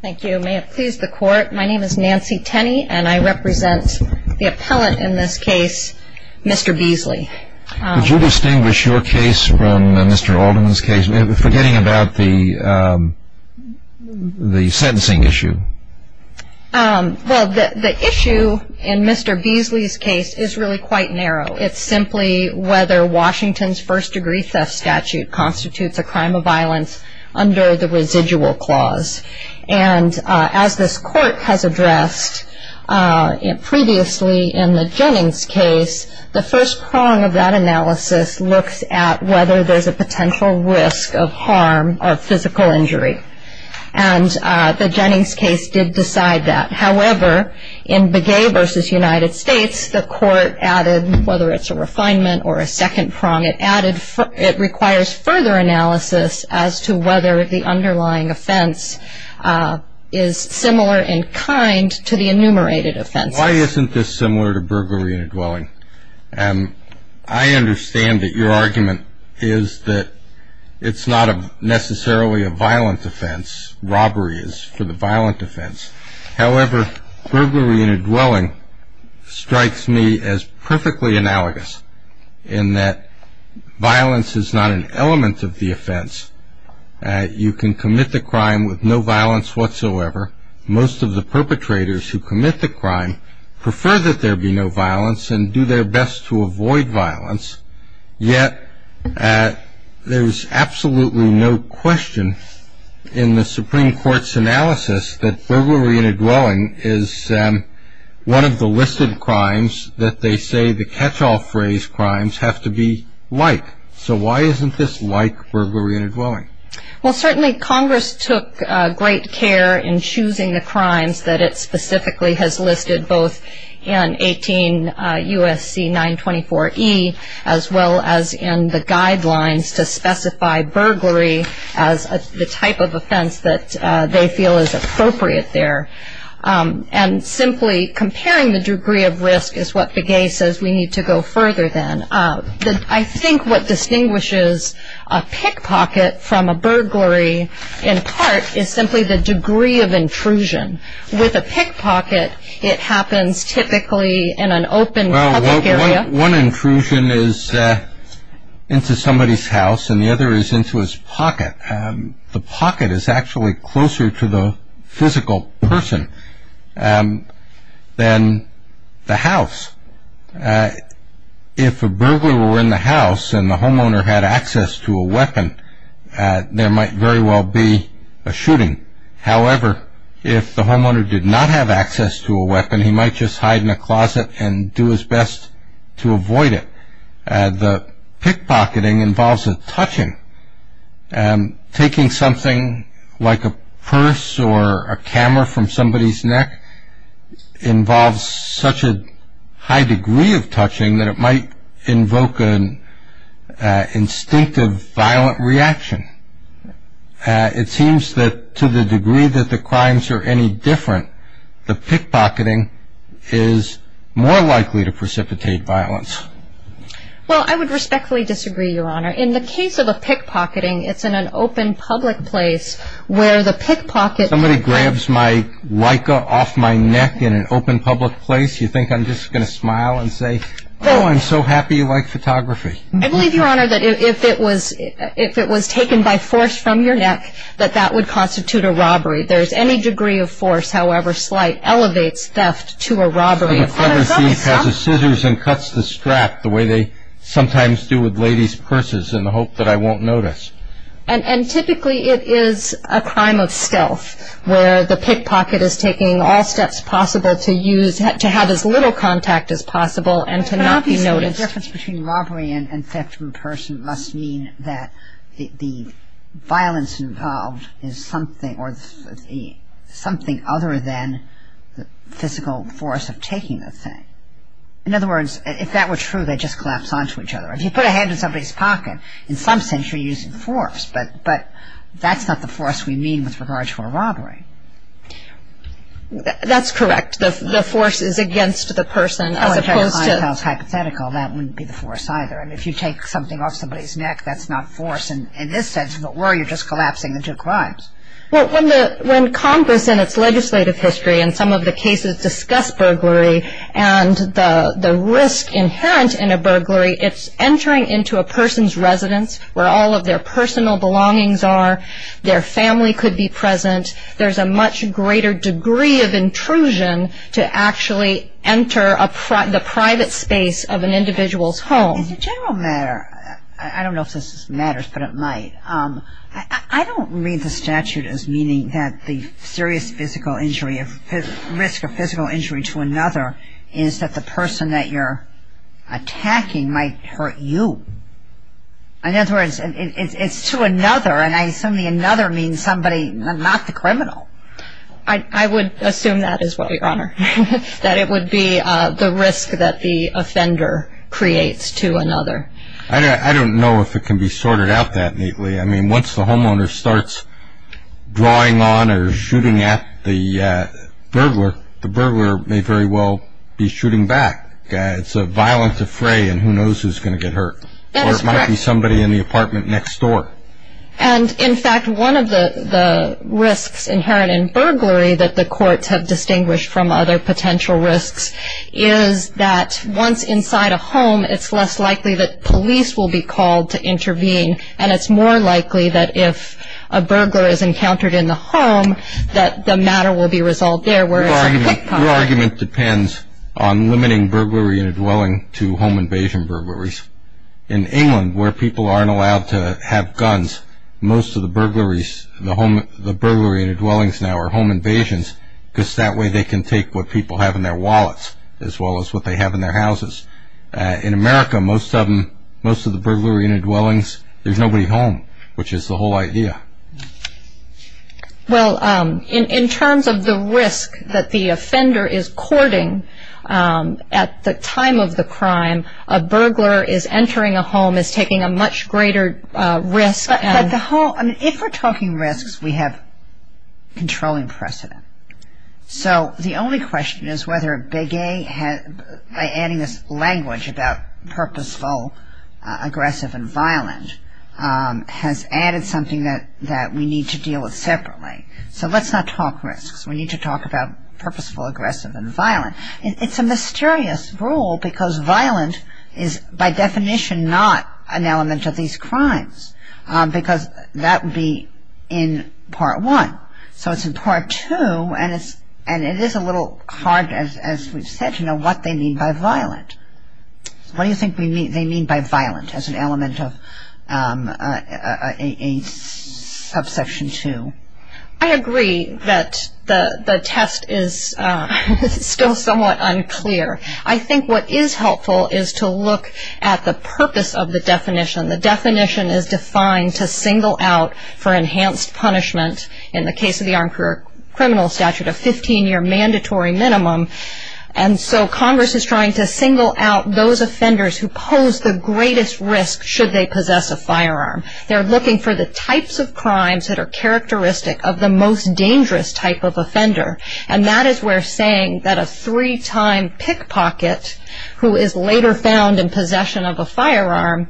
Thank you. May it please the court, my name is Nancy Tenney and I represent the appellate in this case, Mr. Beasley. Would you distinguish your case from Mr. Alderman's case, forgetting about the sentencing issue? Well, the issue in Mr. Beasley's case is really quite narrow. It's simply whether Washington's first degree theft statute constitutes a crime of violence under the residual clause. And as this court has addressed previously in the Jennings case, the first prong of that analysis looks at whether there's a potential risk of harm or physical injury. And the Jennings case did decide that. However, in Begay v. United States, the court added, whether it's a refinement or a second prong, it requires further analysis as to whether the underlying offense is similar in kind to the enumerated offenses. Why isn't this similar to burglary in a dwelling? I understand that your argument is that it's not necessarily a violent offense. Robbery is for the violent offense. However, burglary in a dwelling strikes me as perfectly analogous in that violence is not an element of the crime with no violence whatsoever. Most of the perpetrators who commit the crime prefer that there be no violence and do their best to avoid violence. Yet there's absolutely no question in the Supreme Court's analysis that burglary in a dwelling is one of the listed crimes that they say the catch-all phrase crimes have to be like. So why isn't this like burglary in a dwelling? Well, certainly Congress took great care in choosing the crimes that it specifically has listed both in 18 U.S.C. 924E as well as in the guidelines to specify burglary as the type of offense that they feel is appropriate there. And simply comparing the degree of risk is what Begay says we need to go further than. I think what distinguishes a pickpocket from a burglary in part is simply the degree of intrusion. With a pickpocket it happens typically in an open public area. One intrusion is into somebody's house and the other is into his pocket. The pocket is actually closer to the physical person than the house. If a burglar were in the house and the homeowner had access to a weapon, there might very well be a shooting. However, if the homeowner did not have access to a weapon, he might just hide in a closet and do his best to avoid it. The pickpocketing involves a touching. Taking something like a purse or a camera from somebody's neck involves such a high degree of touching that it might invoke an instinctive violent reaction. It seems that to the degree that the crimes are any different, the pickpocketing is more likely to precipitate violence. Well, I would respectfully disagree, Your Honor. In the case of a pickpocketing, it's in an open public place where the pickpocket Somebody grabs my Leica off my neck in an open public place, you think I'm just going to smile and say, oh, I'm so happy you like photography? I believe, Your Honor, that if it was taken by force from your neck, that that would constitute a robbery. There's any degree of force, however slight, elevates theft to a robbery. And the clever thief has the scissors and cuts the strap the way they sometimes do with ladies' purses in the hope that I won't notice. And typically it is a crime of stealth where the pickpocket is taking all steps possible to use, to have as little contact as possible and to not be noticed. But obviously, the difference between robbery and theft from a person must mean that the violence involved is something other than the physical force of taking the thing. In other words, if that were true, they'd just collapse onto each other. If you put a hand in somebody's pocket, in some sense you're using force. But that's not the force we mean with regard to a robbery. That's correct. The force is against the person as opposed to... Well, if I was hypothetical, that wouldn't be the force either. I mean, if you take something off somebody's neck, that's not force in this sense. If it were, you're just collapsing the two crimes. Well, when Congress in its legislative history in some of the cases discuss burglary and the risk inherent in a burglary, it's entering into a person's residence where all of their a much greater degree of intrusion to actually enter the private space of an individual's home. As a general matter, I don't know if this matters, but it might. I don't read the statute as meaning that the serious physical injury, risk of physical injury to another is that the person that you're attacking might hurt you. In other words, it's to another, and I assume the another means somebody, not the criminal. I would assume that as well, Your Honor, that it would be the risk that the offender creates to another. I don't know if it can be sorted out that neatly. I mean, once the homeowner starts drawing on or shooting at the burglar, the burglar may very well be shooting back. It's a violent defray, and who knows who's going to get hurt. That is correct. Or it might be somebody in the apartment next door. And, in fact, one of the risks inherent in burglary that the courts have distinguished from other potential risks is that once inside a home, it's less likely that police will be called to intervene, and it's more likely that if a burglar is encountered in the home that the matter will be resolved there, whereas in a cook pot... Your argument depends on limiting burglary in a dwelling to home invasion burglaries. In England, where people aren't allowed to have guns, most of the burglaries, the burglary in the dwellings now are home invasions, because that way they can take what people have in their wallets, as well as what they have in their houses. In America, most of them, most of the burglary in the dwellings, there's nobody home, which is the whole idea. Well, in terms of the risk that the offender is courting at the time of the crime, a burglar is entering a home, is taking a much greater risk... But the whole...I mean, if we're talking risks, we have controlling precedent. So the only question is whether Begay, by adding this language about purposeful, aggressive, and violent, has added something that we need to deal with separately. So let's not talk risks. We need to talk about purposeful, aggressive, and violent. It's a mysterious rule, because violent is, by definition, not an element of these crimes, because that would be in Part 1. So it's in Part 2, and it is a little hard, as we've said, to know what they mean by violent. What do you think they mean by violent as an element of Subsection 2? I agree that the test is still somewhat unclear. I think what is helpful is to look at the purpose of the definition. The definition is defined to single out for enhanced punishment, in the case of the Armed Career Criminal Statute, a 15-year mandatory minimum. And so Congress is trying to single out those offenders who pose the greatest risk should they possess a firearm. They're looking for the types of crimes that are characteristic of the most dangerous type of offender. And that is where saying that a three-time pickpocket, who is later found in possession of a firearm,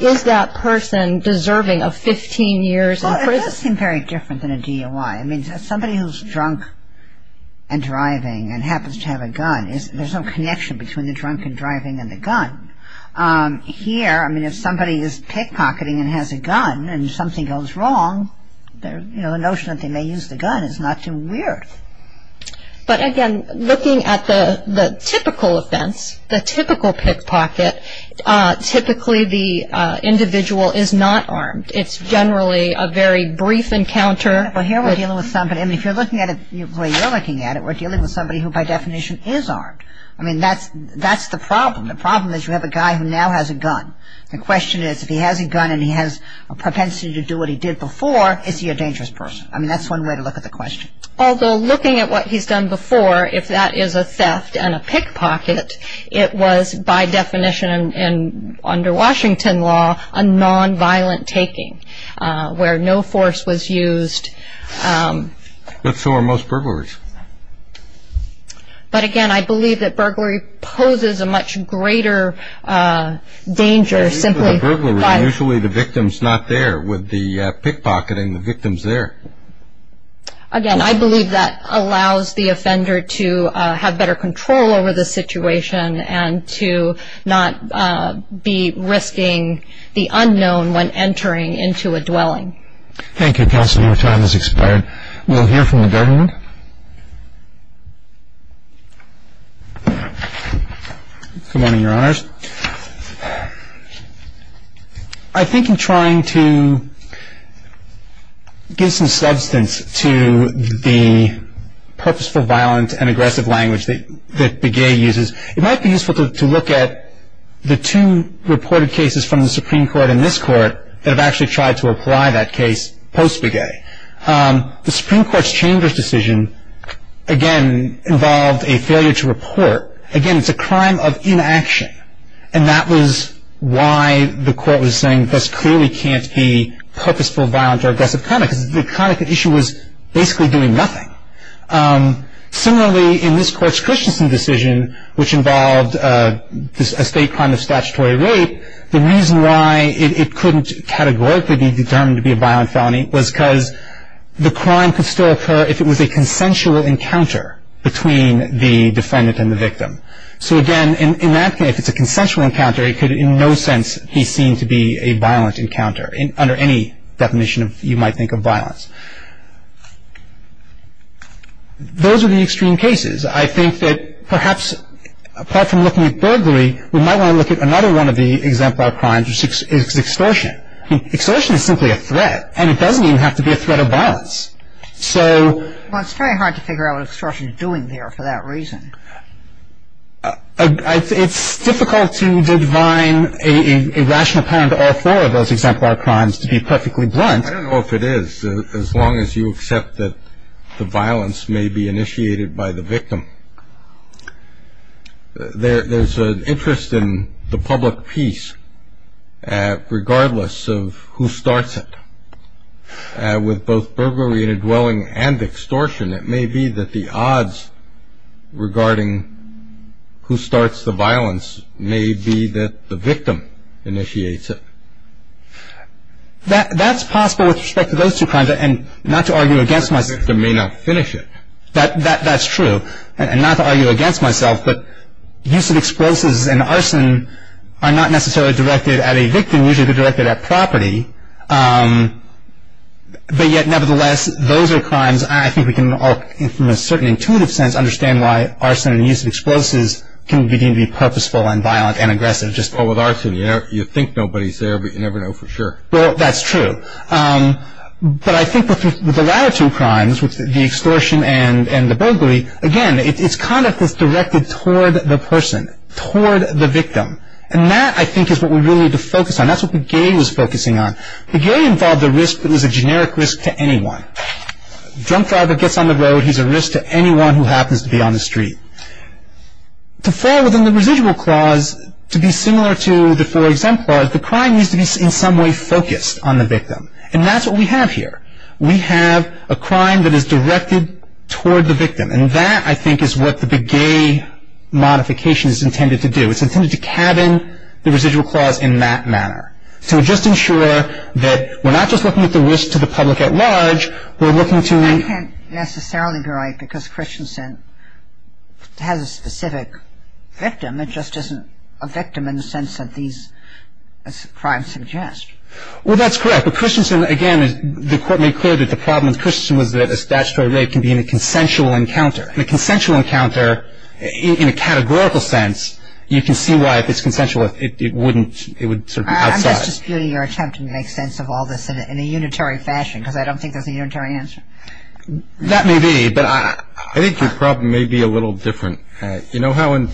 is that person deserving of 15 years in prison. Well, it does seem very different than a DOI. I mean, somebody who's drunk and driving and happens to have a gun, there's no connection between the drunk and driving and the gun. Here, I mean, if somebody is pickpocketing and has a gun and something goes wrong, you know, the notion that they may use the gun is not too weird. But again, looking at the typical offense, the typical pickpocket, typically the individual is not armed. It's generally a very brief encounter. Well, here we're dealing with somebody. I mean, if you're looking at it the way you're looking at it, we're dealing with somebody who, by definition, is armed. I mean, that's the problem. The problem is you have a guy who now has a gun. The question is, if he has a gun and he has a propensity to do what he did before, is he a dangerous person? I mean, that's one way to look at the question. Although, looking at what he's done before, if that is a theft and a pickpocket, it was, by definition, and under Washington law, a nonviolent taking, where no force was used. But so are most burglaries. But again, I believe that burglary poses a much greater danger simply by... Usually the victim's not there. With the pickpocketing, the victim's there. Again, I believe that allows the offender to have better control over the situation and to not be risking the unknown when entering into a dwelling. Thank you, Counselor. Your time has expired. We'll hear from the government. Good morning, Your Honors. I think in trying to give some substance to the purposeful, violent, and aggressive language that Begay uses, it might be useful to look at the two reported cases from the Supreme Court and this Court that have actually tried to apply that case post-Begay. The Supreme Court's Chambers decision, again, involved a failure to report. Again, it's a crime of inaction. And that was why the Court was saying this clearly can't be purposeful, violent, or aggressive crime, because the issue was basically doing nothing. Similarly, in this Court's Christensen decision, which involved a state crime of statutory rape, the reason why it couldn't categorically be determined to be a violent felony was because the crime could still occur if it was a consensual encounter between the defendant and the victim. So, again, in that case, if it's a consensual encounter, it could in no sense be seen to be a violent encounter under any definition you might think of violence. Those are the extreme cases. I think that perhaps, apart from looking at burglary, we might want to look at another one of the exemplar crimes, which is extortion. Extortion is simply a threat, and it doesn't even have to be a threat of violence. So — Well, it's very hard to figure out what extortion is doing there for that reason. It's difficult to divine a rational pattern to all four of those exemplar crimes to be perfectly blunt. I don't know if it is, as long as you accept that the violence may be initiated by the victim. There's an interest in the public peace, regardless of who starts it. With both burglary in a dwelling and extortion, it may be that the odds regarding who starts the violence may be that the victim initiates it. That's possible with respect to those two crimes, and not to argue against myself. The victim may not finish it. That's true. And not to argue against myself, but use of explosives and arson are not necessarily directed at a victim. Usually they're directed at property. But yet, nevertheless, those are crimes I think we can all, from a certain intuitive sense, understand why arson and use of explosives can begin to be purposeful and violent and aggressive. Well, with arson, you think nobody's there, but you never know for sure. Well, that's true. But I think with the latter two crimes, with the extortion and the burglary, again, it's conduct that's directed toward the person, toward the victim. And that, I think, is what we really need to focus on. That's what Begay was focusing on. Begay involved a risk that was a generic risk to anyone. A drunk driver gets on the road, he's a risk to anyone who happens to be on the street. To fall within the residual clause, to be similar to the four exemplars, the crime needs to be in some way focused on the victim. And that's what we have here. We have a crime that is directed toward the victim. And that, I think, is what the Begay modification is intended to do. It's intended to cabin the residual clause in that manner, to just ensure that we're not just looking at the risk to the public at large. We're looking to... But, I mean, I think, because Christensen has a specific victim, it just isn't a victim in the sense that these crimes suggest. Well, that's correct. But Christensen, again, the court made clear that the problem with Christensen was that a statutory rape can be in a consensual encounter. In a consensual encounter, in a categorical sense, you can see why if it's consensual it wouldn't, it would sort of be outside. I'm just disputing your attempt to make sense of all this in a unitary fashion because I don't think there's a unitary answer. That may be, but I... I think your problem may be a little different. You know how in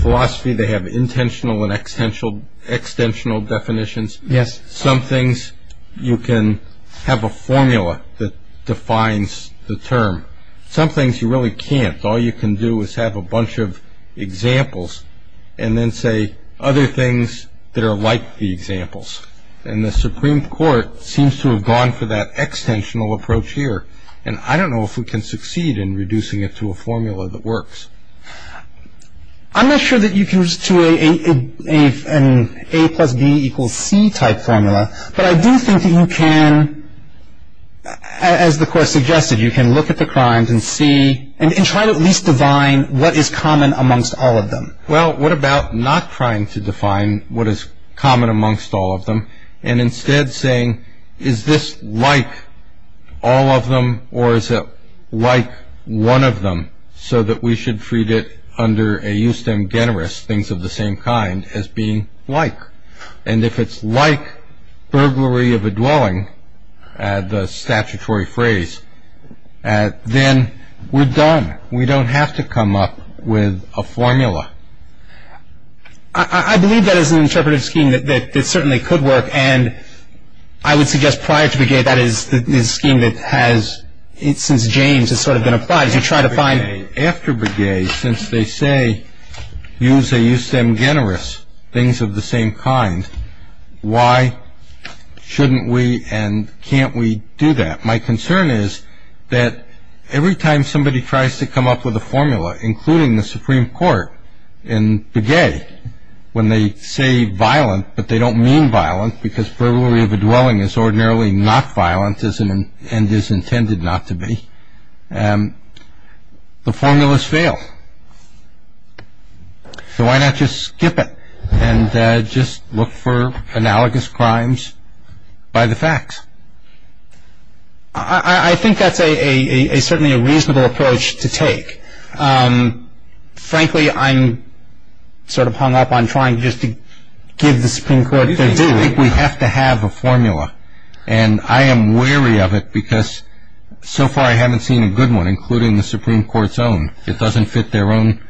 philosophy they have intentional and extensional definitions? Yes. Some things you can have a formula that defines the term. Some things you really can't. All you can do is have a bunch of examples and then say other things that are like the examples. And the Supreme Court seems to have gone for that extensional approach here. And I don't know if we can succeed in reducing it to a formula that works. I'm not sure that you can reduce it to an A plus B equals C type formula, but I do think that you can, as the court suggested, you can look at the crimes and see, and try to at least define what is common amongst all of them. Well, what about not trying to define what is common amongst all of them and instead saying, is this like all of them, or is it like one of them, so that we should treat it under a justem generis, things of the same kind, as being like. And if it's like burglary of a dwelling, the statutory phrase, then we're done. We don't have to come up with a formula. I believe that is an interpretive scheme that certainly could work, and I would suggest prior to Breguet that is the scheme that has, since James, has sort of been applied, is you try to find. After Breguet, since they say use a justem generis, things of the same kind, why shouldn't we and can't we do that? My concern is that every time somebody tries to come up with a formula, including the Supreme Court in Breguet, when they say violent, but they don't mean violent because burglary of a dwelling is ordinarily not violent and is intended not to be, the formulas fail. So why not just skip it and just look for analogous crimes by the facts? I think that's certainly a reasonable approach to take. Frankly, I'm sort of hung up on trying just to give the Supreme Court their due. We have to have a formula, and I am wary of it because so far I haven't seen a good one, including the Supreme Court's own. It doesn't fit their own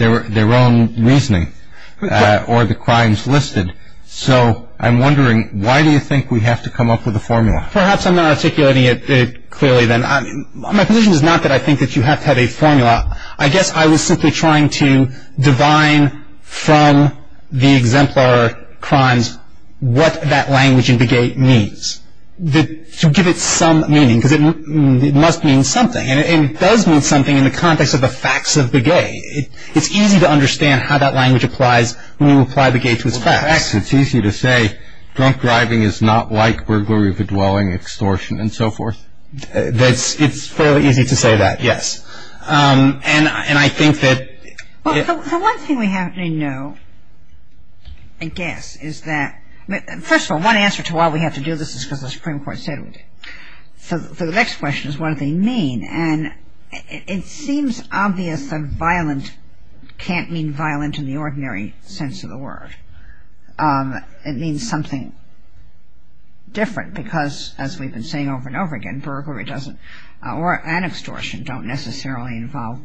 reasoning or the crimes listed. So I'm wondering why do you think we have to come up with a formula? Perhaps I'm not articulating it clearly then. My position is not that I think that you have to have a formula. I guess I was simply trying to divine from the exemplar crimes what that language in Breguet means, to give it some meaning because it must mean something. And it does mean something in the context of the facts of Breguet. It's easy to understand how that language applies when you apply Breguet to its facts. Well, the facts, it's easy to say, drunk driving is not like burglary of a dwelling, extortion, and so forth. It's fairly easy to say that, yes. And I think that... Well, the one thing we have to know, I guess, is that... First of all, one answer to why we have to do this is because the Supreme Court said we did. So the next question is what do they mean? And it seems obvious that violent can't mean violent in the ordinary sense of the word. It means something different because, as we've been saying over and over again, burglary doesn't, or an extortion, don't necessarily involve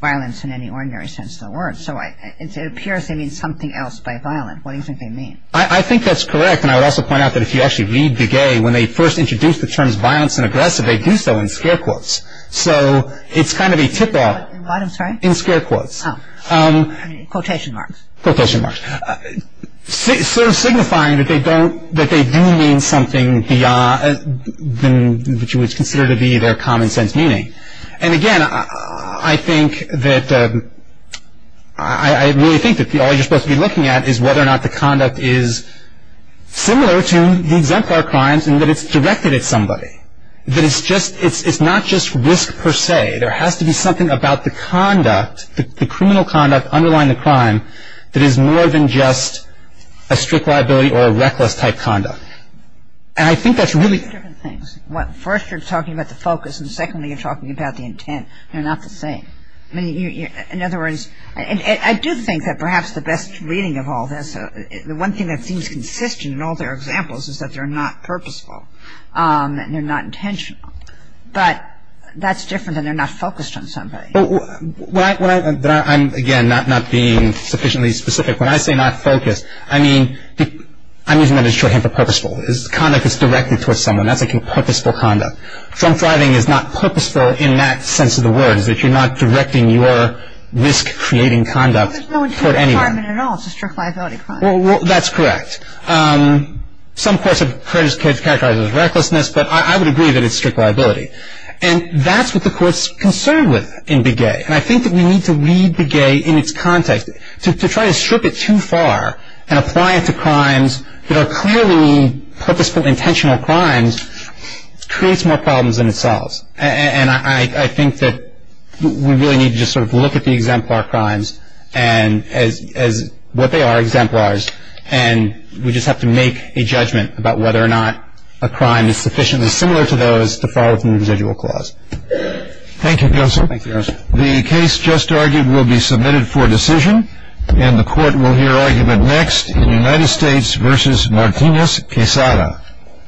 violence in any ordinary sense of the word. So it appears they mean something else by violent. What do you think they mean? I think that's correct. And I would also point out that if you actually read Breguet, when they first introduced the terms violence and aggressive, they do so in scare quotes. So it's kind of a tip-off in scare quotes. Quotation marks. Quotation marks. Sort of signifying that they do mean something beyond what you would consider to be their common sense meaning. And, again, I think that... similar to the exemplar crimes in that it's directed at somebody. That it's not just risk per se. There has to be something about the conduct, the criminal conduct underlying the crime, that is more than just a strict liability or a reckless type conduct. And I think that's really... Different things. First, you're talking about the focus, and secondly, you're talking about the intent. They're not the same. In other words, I do think that perhaps the best reading of all this, the one thing that seems consistent in all their examples is that they're not purposeful. And they're not intentional. But that's different than they're not focused on somebody. When I... I'm, again, not being sufficiently specific. When I say not focused, I mean... I'm using that as a shorthand for purposeful. Conduct that's directed towards someone, that's, again, purposeful conduct. Crime thriving is not purposeful in that sense of the word. It's that you're not directing your risk-creating conduct toward anyone. It's not a requirement at all. It's a strict liability crime. Well, that's correct. Some courts have characterized it as recklessness, but I would agree that it's strict liability. And that's what the Court's concerned with in Begay. And I think that we need to read Begay in its context. To try to strip it too far and apply it to crimes that are clearly purposeful, intentional crimes, creates more problems than it solves. And I think that we really need to just sort of look at the exemplar crimes as what they are, exemplars. And we just have to make a judgment about whether or not a crime is sufficiently similar to those to fall within the residual clause. Thank you, Counselor. Thank you, Your Honor. The case just argued will be submitted for decision. And the Court will hear argument next in United States v. Martinez-Quesada.